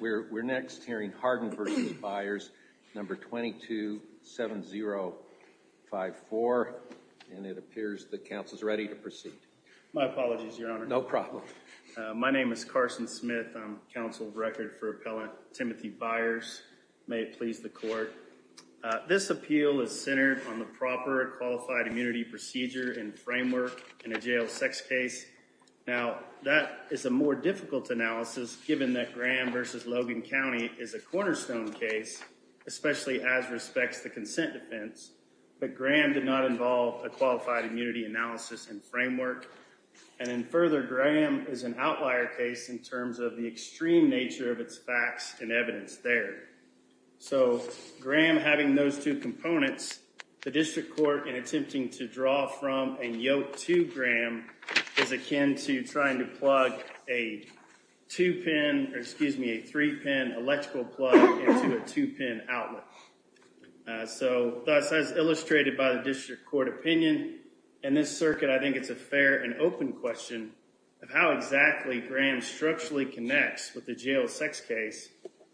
We're next hearing Harden v. Byers, number 227054, and it appears that counsel is ready to proceed. My apologies, Your Honor. No problem. My name is Carson Smith. I'm counsel of record for appellant Timothy Byers. May it please the court. This appeal is centered on the proper qualified immunity procedure and framework in a jail sex case. Now, that is a more difficult analysis given that Graham v. Logan County is a cornerstone case, especially as respects to consent defense. But Graham did not involve a qualified immunity analysis and framework. And in further, Graham is an outlier case in terms of the extreme nature of its facts and evidence there. So Graham having those two components, the district court in attempting to draw from and yoke to Graham is akin to trying to plug a two pin or excuse me, a three pin electrical plug into a two pin outlet. So as illustrated by the district court opinion in this circuit, I think it's a fair and open question of how exactly Graham structurally connects with the jail sex case.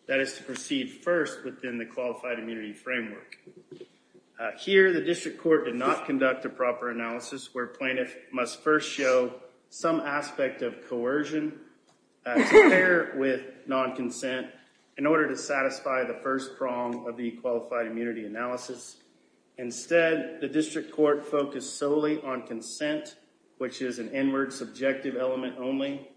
That is to proceed first within the qualified immunity framework. Here, the district court did not conduct a proper analysis where plaintiff must first show some aspect of coercion with non-consent in order to satisfy the first prong of the qualified immunity analysis. Instead, the district court focused solely on consent, which is an inward subjective element only.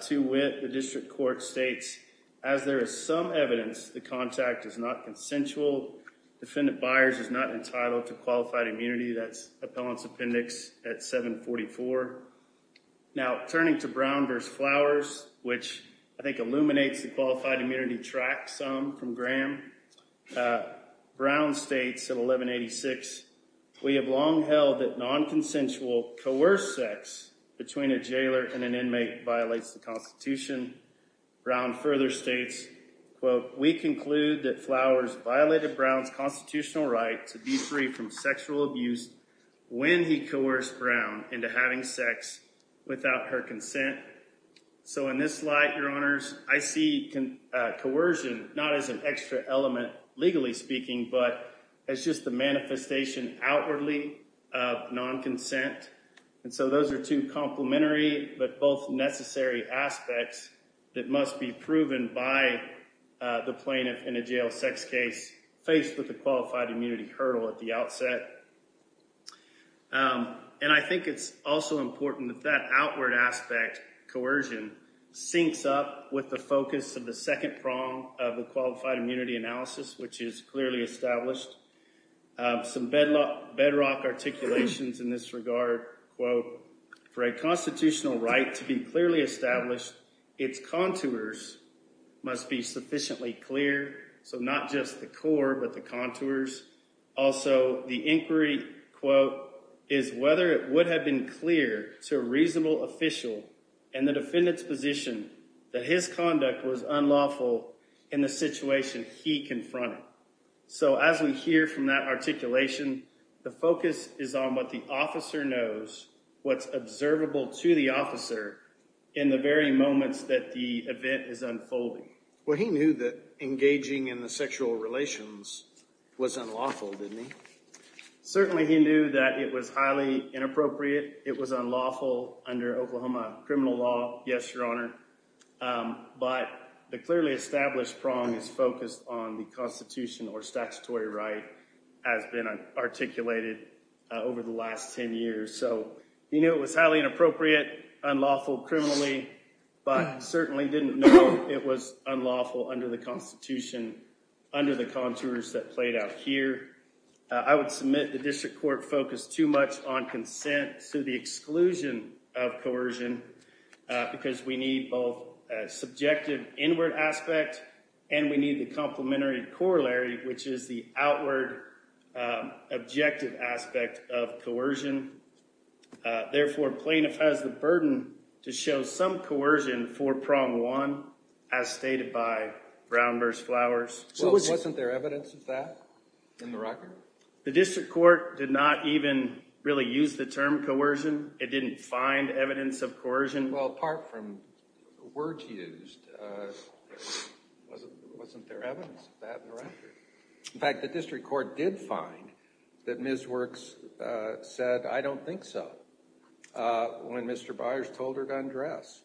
To wit, the district court states, as there is some evidence, the contact is not consensual. Defendant Byers is not entitled to qualified immunity. That's appellant's appendix at 744. Now, turning to Brown v. Flowers, which I think illuminates the qualified immunity track some from Graham. Brown states at 1186, we have long held that non-consensual coerced sex between a jailer and an inmate violates the Constitution. Brown further states, quote, we conclude that Flowers violated Brown's constitutional right to be free from sexual abuse when he coerced Brown into having sex without her consent. So in this light, your honors, I see coercion not as an extra element, legally speaking, but as just the manifestation outwardly of non-consent. And so those are two complementary but both necessary aspects that must be proven by the plaintiff in a jail sex case faced with a qualified immunity hurdle at the outset. And I think it's also important that that outward aspect, coercion, syncs up with the focus of the second prong of the qualified immunity analysis, which is clearly established. Some bedrock articulations in this regard, quote, for a constitutional right to be clearly established, its contours must be sufficiently clear. So not just the core, but the contours. Also, the inquiry, quote, is whether it would have been clear to a reasonable official and the defendant's position that his conduct was unlawful in the situation he confronted. So as we hear from that articulation, the focus is on what the officer knows, what's observable to the officer in the very moments that the event is unfolding. Well, he knew that engaging in the sexual relations was unlawful, didn't he? Certainly he knew that it was highly inappropriate. It was unlawful under Oklahoma criminal law, yes, your honor. But the clearly established prong is focused on the constitution or statutory right as been articulated over the last 10 years. So he knew it was highly inappropriate, unlawful criminally, but certainly didn't know it was unlawful under the constitution, under the contours that played out here. I would submit the district court focused too much on consent to the exclusion of coercion because we need both subjective inward aspect and we need the complementary corollary, which is the outward objective aspect of coercion. Therefore, plaintiff has the burden to show some coercion for prong one, as stated by Brown v. Flowers. So wasn't there evidence of that in the record? The district court did not even really use the term coercion. It didn't find evidence of coercion. Well, apart from words used, there wasn't there evidence of that in the record. In fact, the district court did find that Ms. Works said, I don't think so, when Mr. Byers told her to undress.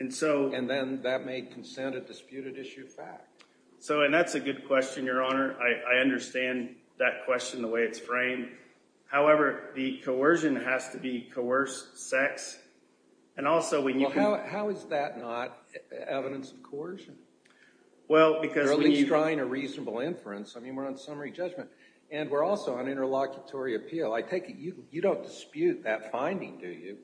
And then that made consent a disputed issue fact. And that's a good question, Your Honor. I understand that question, the way it's framed. However, the coercion has to be coerced sex. How is that not evidence of coercion? Well, because when you… You're at least trying a reasonable inference. I mean, we're on summary judgment. And we're also on interlocutory appeal. I take it you don't dispute that finding, do you?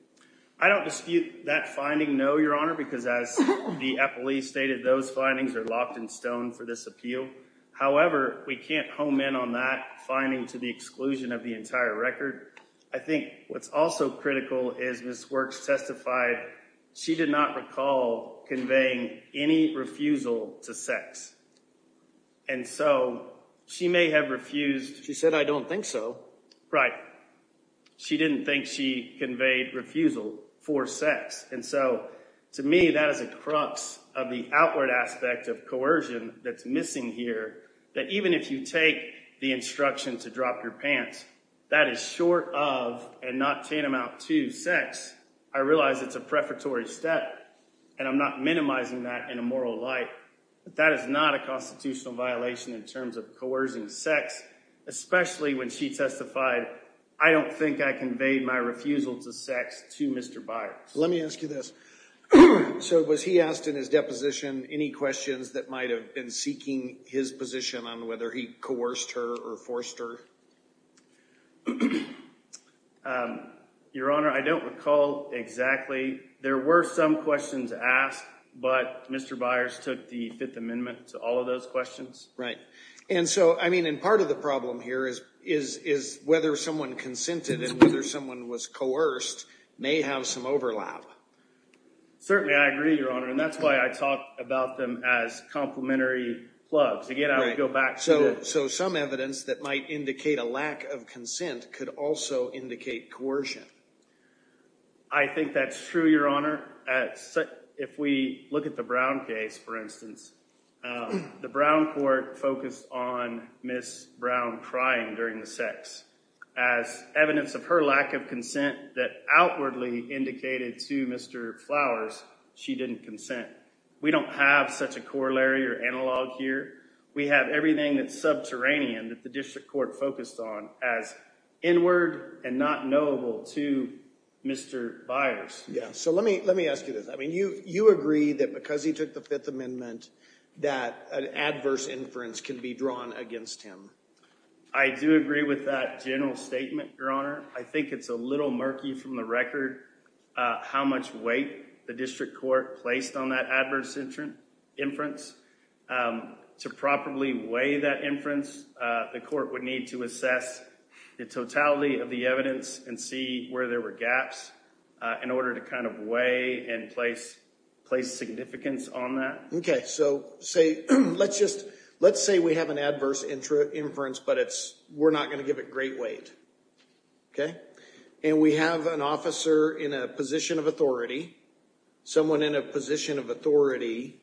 I don't dispute that finding, no, Your Honor, because as the appellee stated, those findings are locked in stone for this appeal. However, we can't home in on that finding to the exclusion of the entire record. I think what's also critical is Ms. Works testified she did not recall conveying any refusal to sex. And so she may have refused. She said, I don't think so. Right. She didn't think she conveyed refusal for sex. And so to me, that is a crux of the outward aspect of coercion that's missing here. That even if you take the instruction to drop your pants, that is short of and not tantamount to sex. I realize it's a prefatory step, and I'm not minimizing that in a moral light. But that is not a constitutional violation in terms of coercing sex, especially when she testified, I don't think I conveyed my refusal to sex to Mr. Byers. Let me ask you this. So was he asked in his deposition any questions that might have been seeking his position on whether he coerced her or forced her? Your Honor, I don't recall exactly. There were some questions asked, but Mr. Byers took the Fifth Amendment to all of those questions. Right. And so, I mean, and part of the problem here is whether someone consented and whether someone was coerced may have some overlap. Certainly, I agree, Your Honor. And that's why I talk about them as complementary plugs. Again, I would go back. So some evidence that might indicate a lack of consent could also indicate coercion. I think that's true, Your Honor. If we look at the Brown case, for instance, the Brown court focused on Ms. Brown crying during the sex. As evidence of her lack of consent that outwardly indicated to Mr. Flowers, she didn't consent. We don't have such a corollary or analog here. We have everything that's subterranean that the district court focused on as inward and not knowable to Mr. Byers. So let me ask you this. I mean, you agree that because he took the Fifth Amendment that an adverse inference can be drawn against him. I do agree with that general statement, Your Honor. I think it's a little murky from the record how much weight the district court placed on that adverse inference. To properly weigh that inference, the court would need to assess the totality of the evidence and see where there were gaps in order to kind of weigh and place significance on that. Okay, so let's say we have an adverse inference, but we're not going to give it great weight. And we have an officer in a position of authority. Someone in a position of authority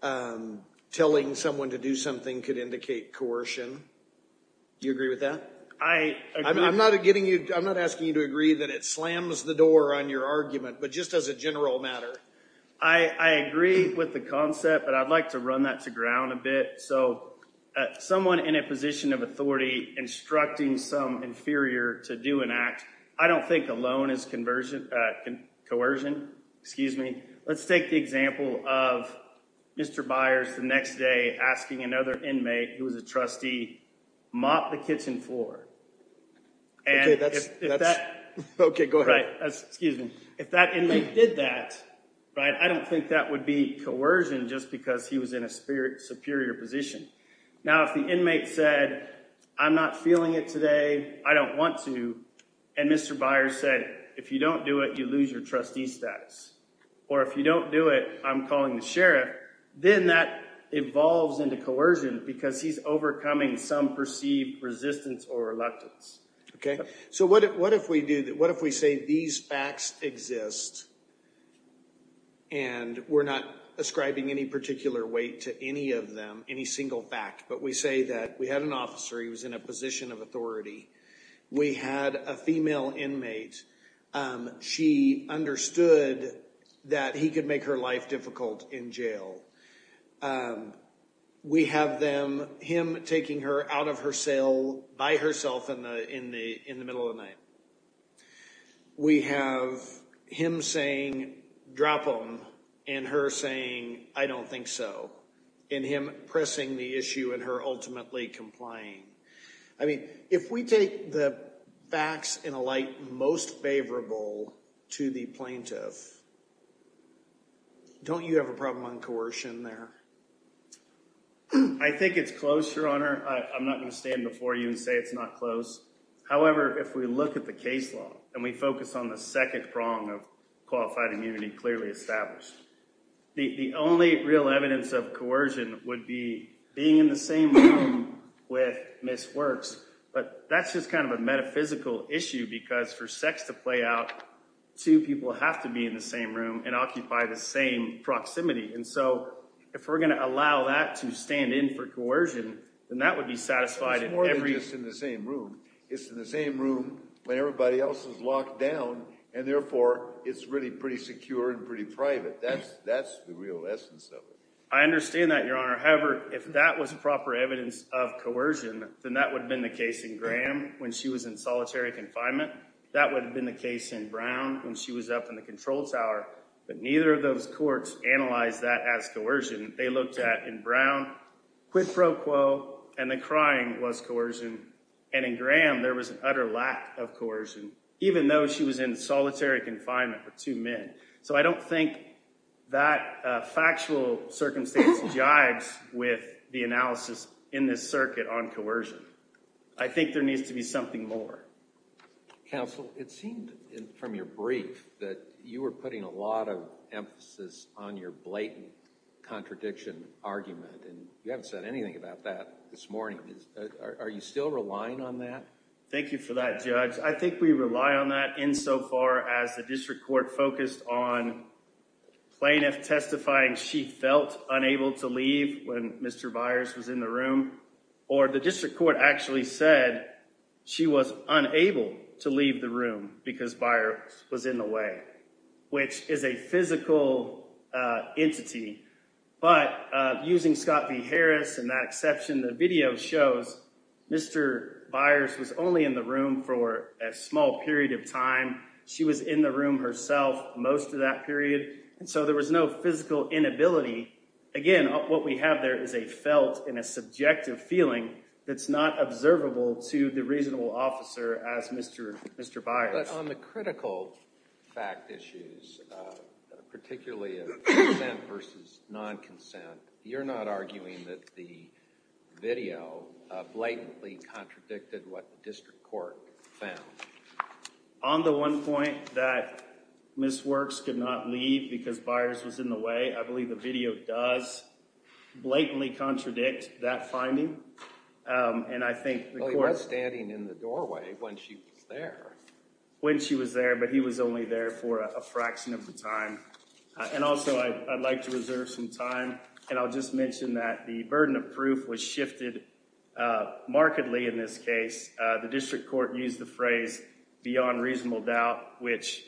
telling someone to do something could indicate coercion. Do you agree with that? I'm not asking you to agree that it slams the door on your argument, but just as a general matter. I agree with the concept, but I'd like to run that to ground a bit. So someone in a position of authority instructing some inferior to do an act, I don't think alone is coercion. Excuse me. Let's take the example of Mr. Byers the next day asking another inmate who was a trustee mop the kitchen floor. Okay, go ahead. If that inmate did that, I don't think that would be coercion just because he was in a superior position. Now, if the inmate said, I'm not feeling it today, I don't want to. And Mr. Byers said, if you don't do it, you lose your trustee status. Or if you don't do it, I'm calling the sheriff. Then that evolves into coercion because he's overcoming some perceived resistance or reluctance. Okay. So what if we do that? What if we say these facts exist and we're not ascribing any particular weight to any of them, any single fact. But we say that we had an officer. He was in a position of authority. We had a female inmate. She understood that he could make her life difficult in jail. We have him taking her out of her cell by herself in the middle of the night. We have him saying, drop him. And her saying, I don't think so. And him pressing the issue and her ultimately complying. I mean, if we take the facts in a light most favorable to the plaintiff, don't you have a problem on coercion there? I think it's close, Your Honor. I'm not going to stand before you and say it's not close. However, if we look at the case law and we focus on the second prong of qualified immunity clearly established, the only real evidence of coercion would be being in the same room with Ms. Works. But that's just kind of a metaphysical issue because for sex to play out, two people have to be in the same room and occupy the same proximity. And so if we're going to allow that to stand in for coercion, then that would be satisfied in every— It's more than just in the same room. It's in the same room when everybody else is locked down, and therefore it's really pretty secure and pretty private. That's the real essence of it. I understand that, Your Honor. However, if that was proper evidence of coercion, then that would have been the case in Graham when she was in solitary confinement. That would have been the case in Brown when she was up in the control tower. But neither of those courts analyzed that as coercion. They looked at, in Brown, quid pro quo, and the crying was coercion. And in Graham, there was an utter lack of coercion, even though she was in solitary confinement with two men. So I don't think that factual circumstance jibes with the analysis in this circuit on coercion. I think there needs to be something more. Counsel, it seemed from your brief that you were putting a lot of emphasis on your blatant contradiction argument, and you haven't said anything about that this morning. Are you still relying on that? Thank you for that, Judge. I think we rely on that insofar as the district court focused on plaintiff testifying she felt unable to leave when Mr. Byers was in the room, or the district court actually said she was unable to leave the room because Byers was in the way, which is a physical entity. But using Scott v. Harris and that exception, the video shows Mr. Byers was only in the room for a small period of time. She was in the room herself most of that period. And so there was no physical inability. Again, what we have there is a felt and a subjective feeling that's not observable to the reasonable officer as Mr. Byers. But on the critical fact issues, particularly of consent versus non-consent, you're not arguing that the video blatantly contradicted what the district court found. On the one point that Ms. Works could not leave because Byers was in the way, I believe the video does blatantly contradict that finding. Well, he was standing in the doorway when she was there. When she was there, but he was only there for a fraction of the time. And also, I'd like to reserve some time, and I'll just mention that the burden of proof was shifted markedly in this case. The district court used the phrase beyond reasonable doubt, which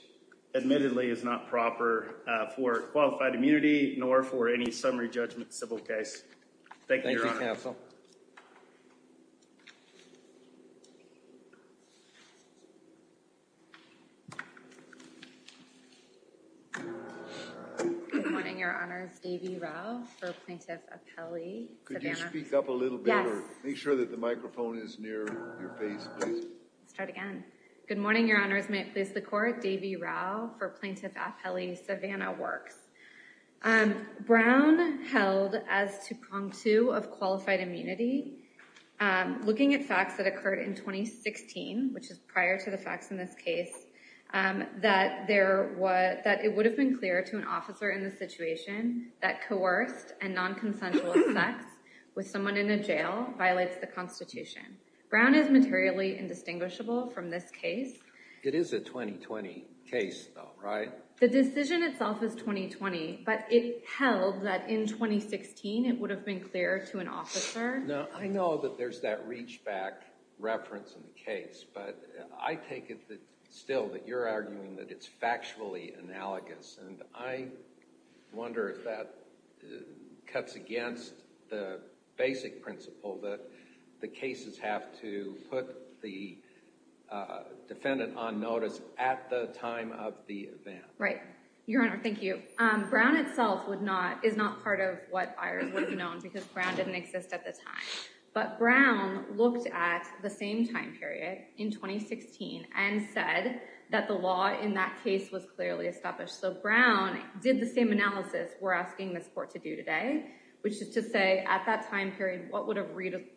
admittedly is not proper for qualified immunity nor for any summary judgment civil case. Could you speak up a little bit? Make sure that the microphone is near your face, please. Start again. Good morning, your honors. May it please the court. For plaintiff appellee Savannah works. Brown held as to Kong to have qualified immunity. Looking at facts that occurred in 2016, which is prior to the facts in this case, that there was that it would have been clear to an officer in the situation that coerced and non consensual sex with someone in a jail violates the Constitution. Brown is materially indistinguishable from this case. It is a 2020 case, though, right? The decision itself is 2020, but it held that in 2016 it would have been clear to an officer. Now, I know that there's that reach back reference in the case, but I take it still that you're arguing that it's factually analogous. And I wonder if that cuts against the basic principle that the cases have to put the defendant on notice at the time of the event. Right, your honor. Thank you. Brown itself would not is not part of what I was known because Brown didn't exist at the time. But Brown looked at the same time period in 2016 and said that the law in that case was clearly established. So Brown did the same analysis we're asking this court to do today, which is to say at that time period, what would a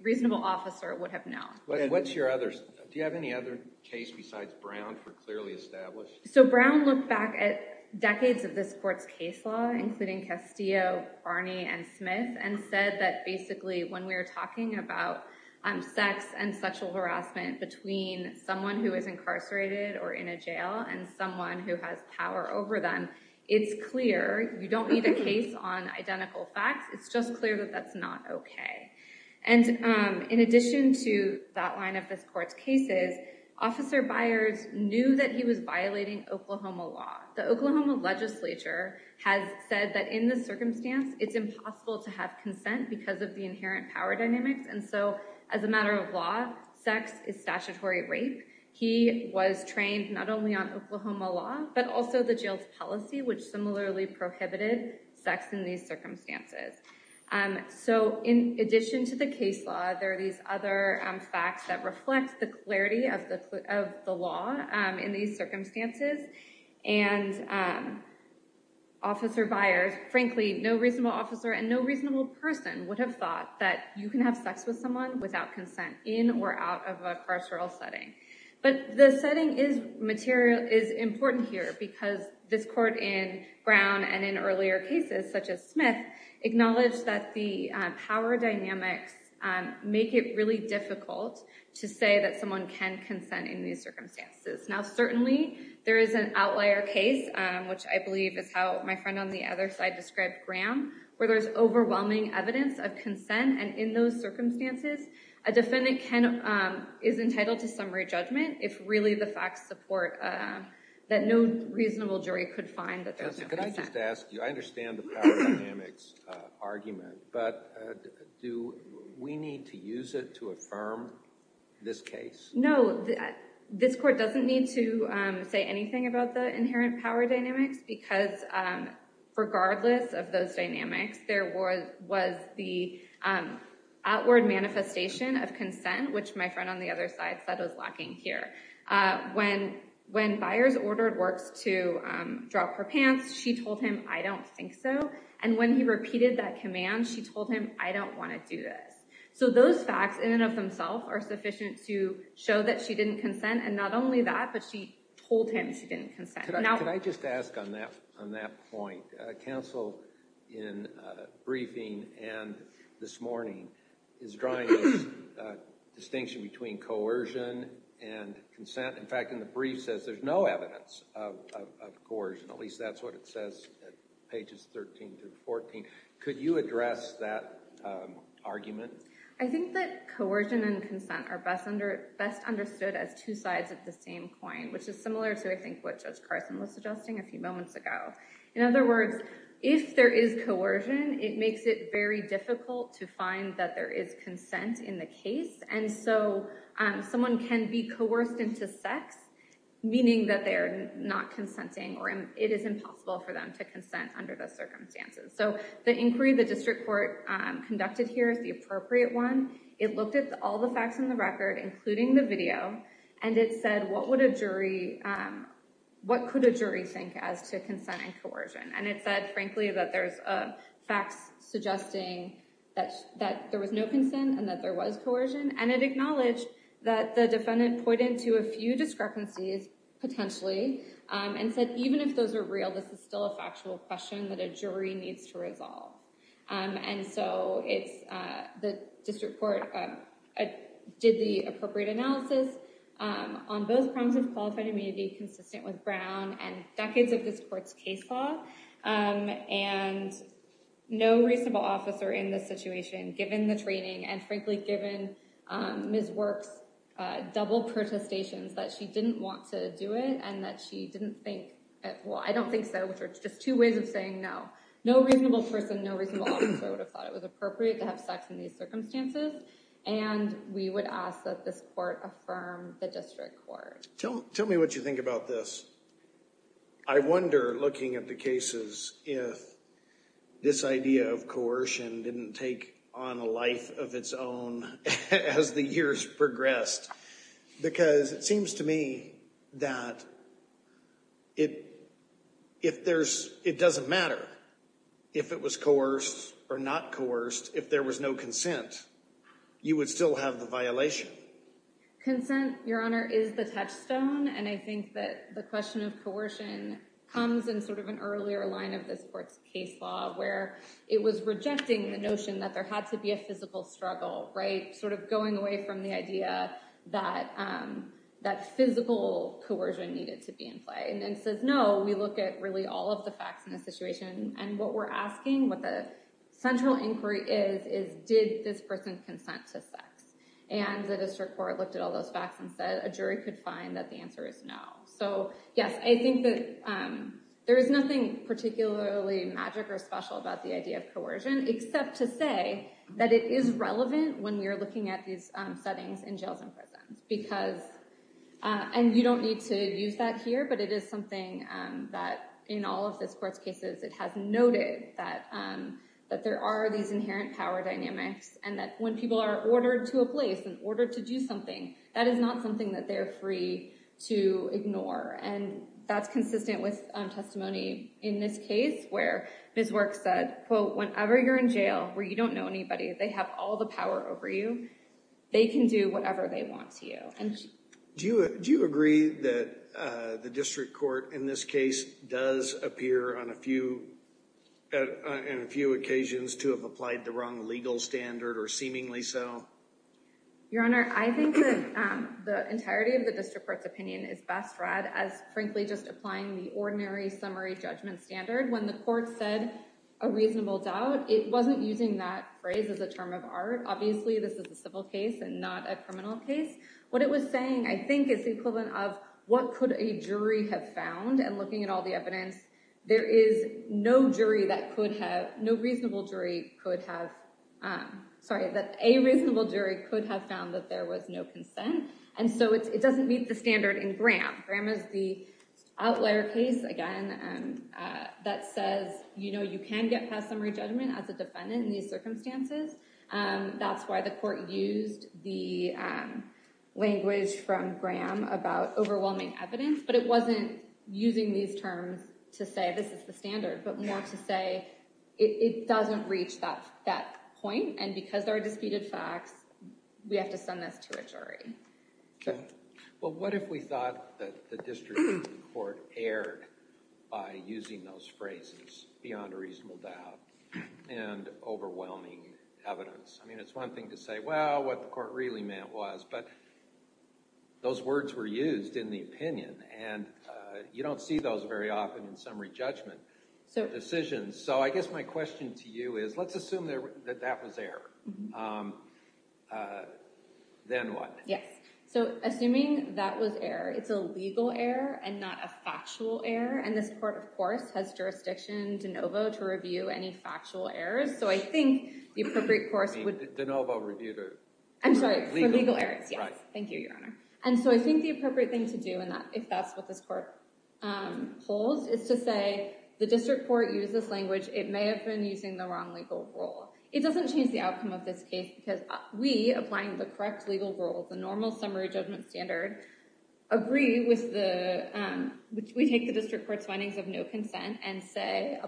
reasonable officer would have known? What's your others? Do you have any other case besides Brown for clearly established? So Brown looked back at decades of this court's case law, including Castillo, Barney and Smith, and said that basically when we were talking about sex and sexual harassment between someone who is incarcerated or in a jail and someone who has power over them, it's clear. You don't need a case on identical facts. It's just clear that that's not OK. And in addition to that line of this court's cases, Officer Byers knew that he was violating Oklahoma law. The Oklahoma legislature has said that in this circumstance, it's impossible to have consent because of the inherent power dynamics. And so as a matter of law, sex is statutory rape. He was trained not only on Oklahoma law, but also the jail's policy, which similarly prohibited sex in these circumstances. So in addition to the case law, there are these other facts that reflect the clarity of the law in these circumstances. And Officer Byers, frankly, no reasonable officer and no reasonable person would have thought that you can have sex with someone without consent in or out of a carceral setting. But the setting is important here because this court in Brown and in earlier cases, such as Smith, acknowledged that the power dynamics make it really difficult to say that someone can consent in these circumstances. Now certainly, there is an outlier case, which I believe is how my friend on the other side described Graham, where there's overwhelming evidence of consent. And in those circumstances, a defendant is entitled to summary judgment if really the facts support that no reasonable jury could find that there's no consent. Can I just ask you, I understand the power dynamics argument, but do we need to use it to affirm this case? No. This court doesn't need to say anything about the inherent power dynamics because regardless of those dynamics, there was the outward manifestation of consent, which my friend on the other side said was lacking here. When Byers ordered Works to drop her pants, she told him, I don't think so. And when he repeated that command, she told him, I don't want to do this. So those facts in and of themselves are sufficient to show that she didn't consent. And not only that, but she told him she didn't consent. Can I just ask on that point, counsel in briefing and this morning is drawing a distinction between coercion and consent. In fact, in the brief says there's no evidence of coercion. At least that's what it says at pages 13 through 14. Could you address that argument? I think that coercion and consent are best understood as two sides of the same coin, which is similar to I think what Judge Carson was suggesting a few moments ago. In other words, if there is coercion, it makes it very difficult to find that there is consent in the case. And so someone can be coerced into sex, meaning that they are not consenting or it is impossible for them to consent under those circumstances. So the inquiry the district court conducted here is the appropriate one. It looked at all the facts in the record, including the video, and it said, what would a jury, what could a jury think as to consent and coercion? And it said, frankly, that there's facts suggesting that there was no consent and that there was coercion. And it acknowledged that the defendant pointed to a few discrepancies, potentially, and said, even if those are real, this is still a factual question that a jury needs to resolve. And so the district court did the appropriate analysis on those problems of qualified immunity consistent with Brown and decades of this court's case law. And no reasonable officer in this situation, given the training and, frankly, given Ms. Works' double protestations that she didn't want to do it and that she didn't think, well, I don't think so, which are just two ways of saying no. No reasonable person, no reasonable officer would have thought it was appropriate to have sex in these circumstances. And we would ask that this court affirm the district court. Tell me what you think about this. I wonder, looking at the cases, if this idea of coercion didn't take on a life of its own as the years progressed, because it seems to me that it doesn't matter if it was coerced or not coerced. If there was no consent, you would still have the violation. I think consent, Your Honor, is the touchstone. And I think that the question of coercion comes in sort of an earlier line of this court's case law, where it was rejecting the notion that there had to be a physical struggle, right, sort of going away from the idea that physical coercion needed to be in play. And then it says, no, we look at really all of the facts in the situation. And what we're asking, what the central inquiry is, is did this person consent to sex? And the district court looked at all those facts and said a jury could find that the answer is no. So yes, I think that there is nothing particularly magic or special about the idea of coercion, except to say that it is relevant when we are looking at these settings in jails and prisons. And you don't need to use that here, but it is something that in all of this court's cases, it has noted that there are these inherent power dynamics. And that when people are ordered to a place and ordered to do something, that is not something that they're free to ignore. And that's consistent with testimony in this case, where Ms. Works said, quote, whenever you're in jail where you don't know anybody, they have all the power over you. They can do whatever they want to you. And do you agree that the district court in this case does appear on a few occasions to have applied the wrong legal standard or seemingly so? Your Honor, I think that the entirety of the district court's opinion is best read as frankly just applying the ordinary summary judgment standard. When the court said a reasonable doubt, it wasn't using that phrase as a term of art. Obviously, this is a civil case and not a criminal case. What it was saying, I think, is the equivalent of what could a jury have found. And looking at all the evidence, there is no jury that could have—no reasonable jury could have—sorry, that a reasonable jury could have found that there was no consent. And so it doesn't meet the standard in Graham. Graham is the outlier case, again, that says, you know, you can get past summary judgment as a defendant in these circumstances. That's why the court used the language from Graham about overwhelming evidence. But it wasn't using these terms to say this is the standard, but more to say it doesn't reach that point. And because there are disputed facts, we have to send this to a jury. Well, what if we thought that the district court erred by using those phrases, beyond a reasonable doubt, and overwhelming evidence? I mean, it's one thing to say, well, what the court really meant was. But those words were used in the opinion, and you don't see those very often in summary judgment decisions. So I guess my question to you is let's assume that that was error. Then what? Yes. So assuming that was error, it's a legal error and not a factual error. And this court, of course, has jurisdiction de novo to review any factual errors. So I think the appropriate course would— De novo review to— I'm sorry, for legal errors, yes. Thank you, Your Honor. And so I think the appropriate thing to do, if that's what this court holds, is to say the district court used this language. It may have been using the wrong legal rule. It doesn't change the outcome of this case because we, applying the correct legal rule, the normal summary judgment standard, agree with the— we take the district court's findings of no consent and say,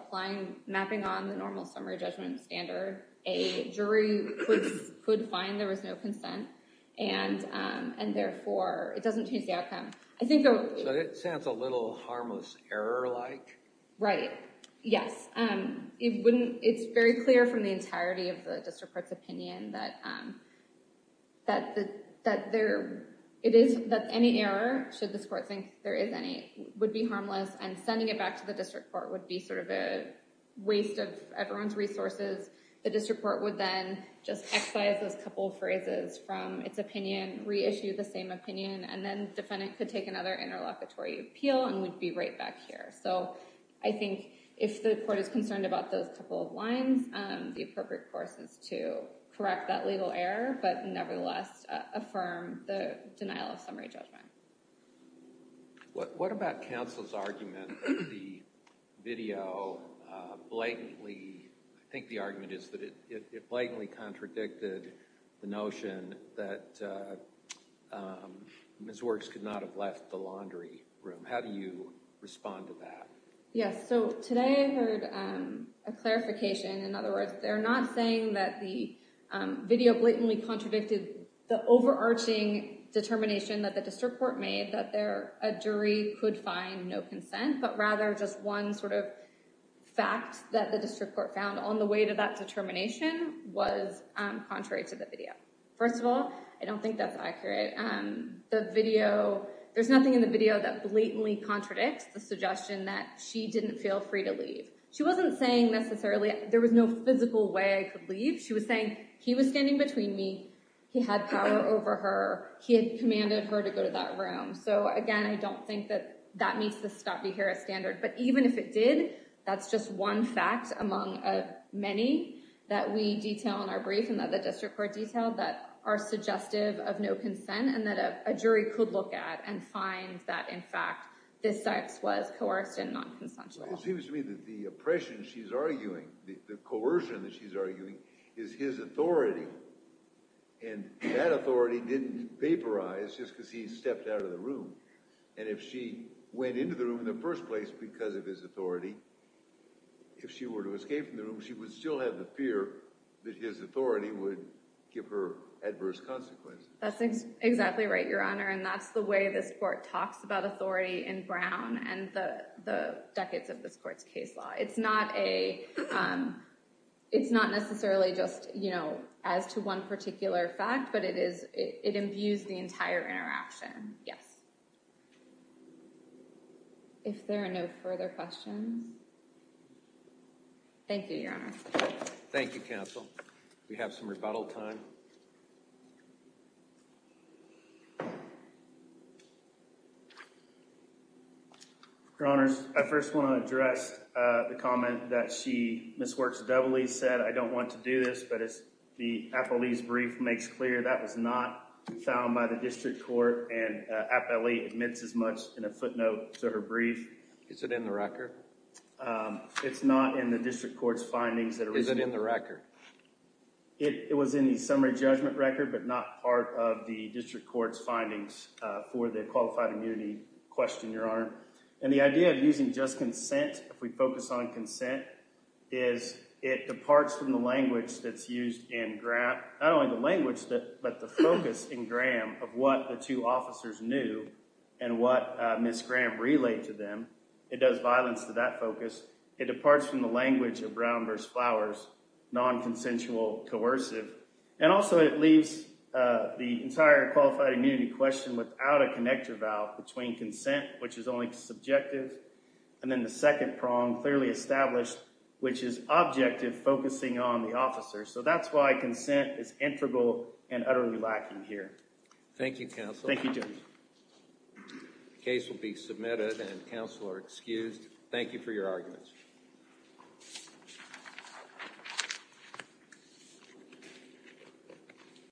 mapping on the normal summary judgment standard, a jury could find there was no consent. And therefore, it doesn't change the outcome. So it sounds a little harmless error-like. Right. Yes. It's very clear from the entirety of the district court's opinion that any error, should this court think there is any, would be harmless. And sending it back to the district court would be sort of a waste of everyone's resources. The district court would then just excise those couple of phrases from its opinion, reissue the same opinion, and then the defendant could take another interlocutory appeal and would be right back here. So I think if the court is concerned about those couple of lines, the appropriate course is to correct that legal error but nevertheless affirm the denial of summary judgment. What about counsel's argument that the video blatantly—I think the argument is that it blatantly contradicted the notion that Ms. Works could not have left the laundry room. How do you respond to that? Yes, so today I heard a clarification. In other words, they're not saying that the video blatantly contradicted the overarching determination that the district court made that a jury could find no consent, but rather just one sort of fact that the district court found on the way to that determination was contrary to the video. First of all, I don't think that's accurate. There's nothing in the video that blatantly contradicts the suggestion that she didn't feel free to leave. She wasn't saying necessarily there was no physical way I could leave. She was saying he was standing between me, he had power over her, he had commanded her to go to that room. So again, I don't think that that meets the stoppy Harris standard. But even if it did, that's just one fact among many that we detail in our brief and that the district court detailed that are suggestive of no consent and that a jury could look at and find that, in fact, this sex was coerced and not consensual. It seems to me that the oppression she's arguing, the coercion that she's arguing, is his authority. And that authority didn't vaporize just because he stepped out of the room. And if she went into the room in the first place because of his authority, if she were to escape from the room, she would still have the fear that his authority would give her adverse consequences. That's exactly right, Your Honor. And that's the way this court talks about authority in Brown and the decades of this court's case law. It's not necessarily just as to one particular fact, but it imbues the entire interaction. Yes. If there are no further questions. Thank you, Your Honor. Thank you, counsel. We have some rebuttal time. Your Honors, I first want to address the comment that Ms. Works-Dovely said, I don't want to do this, but the appellee's brief makes clear that was not found by the district court and an appellee admits as much in a footnote to her brief. Is it in the record? It's not in the district court's findings. Is it in the record? It was in the summary judgment record, but not part of the district court's findings for the qualified immunity question, Your Honor. And the idea of using just consent, if we focus on consent, is it departs from the language that's used in Graham, not only the language, but the focus in Graham of what the two officers knew and what Ms. Graham relayed to them. It does violence to that focus. It departs from the language of Brown v. Flowers, non-consensual, coercive, and also it leaves the entire qualified immunity question without a connector valve between consent, which is only subjective, and then the second prong, clearly established, which is objective, focusing on the officer. So that's why consent is integral and utterly lacking here. Thank you, counsel. Thank you, Judge. The case will be submitted and counsel are excused. Thank you for your arguments.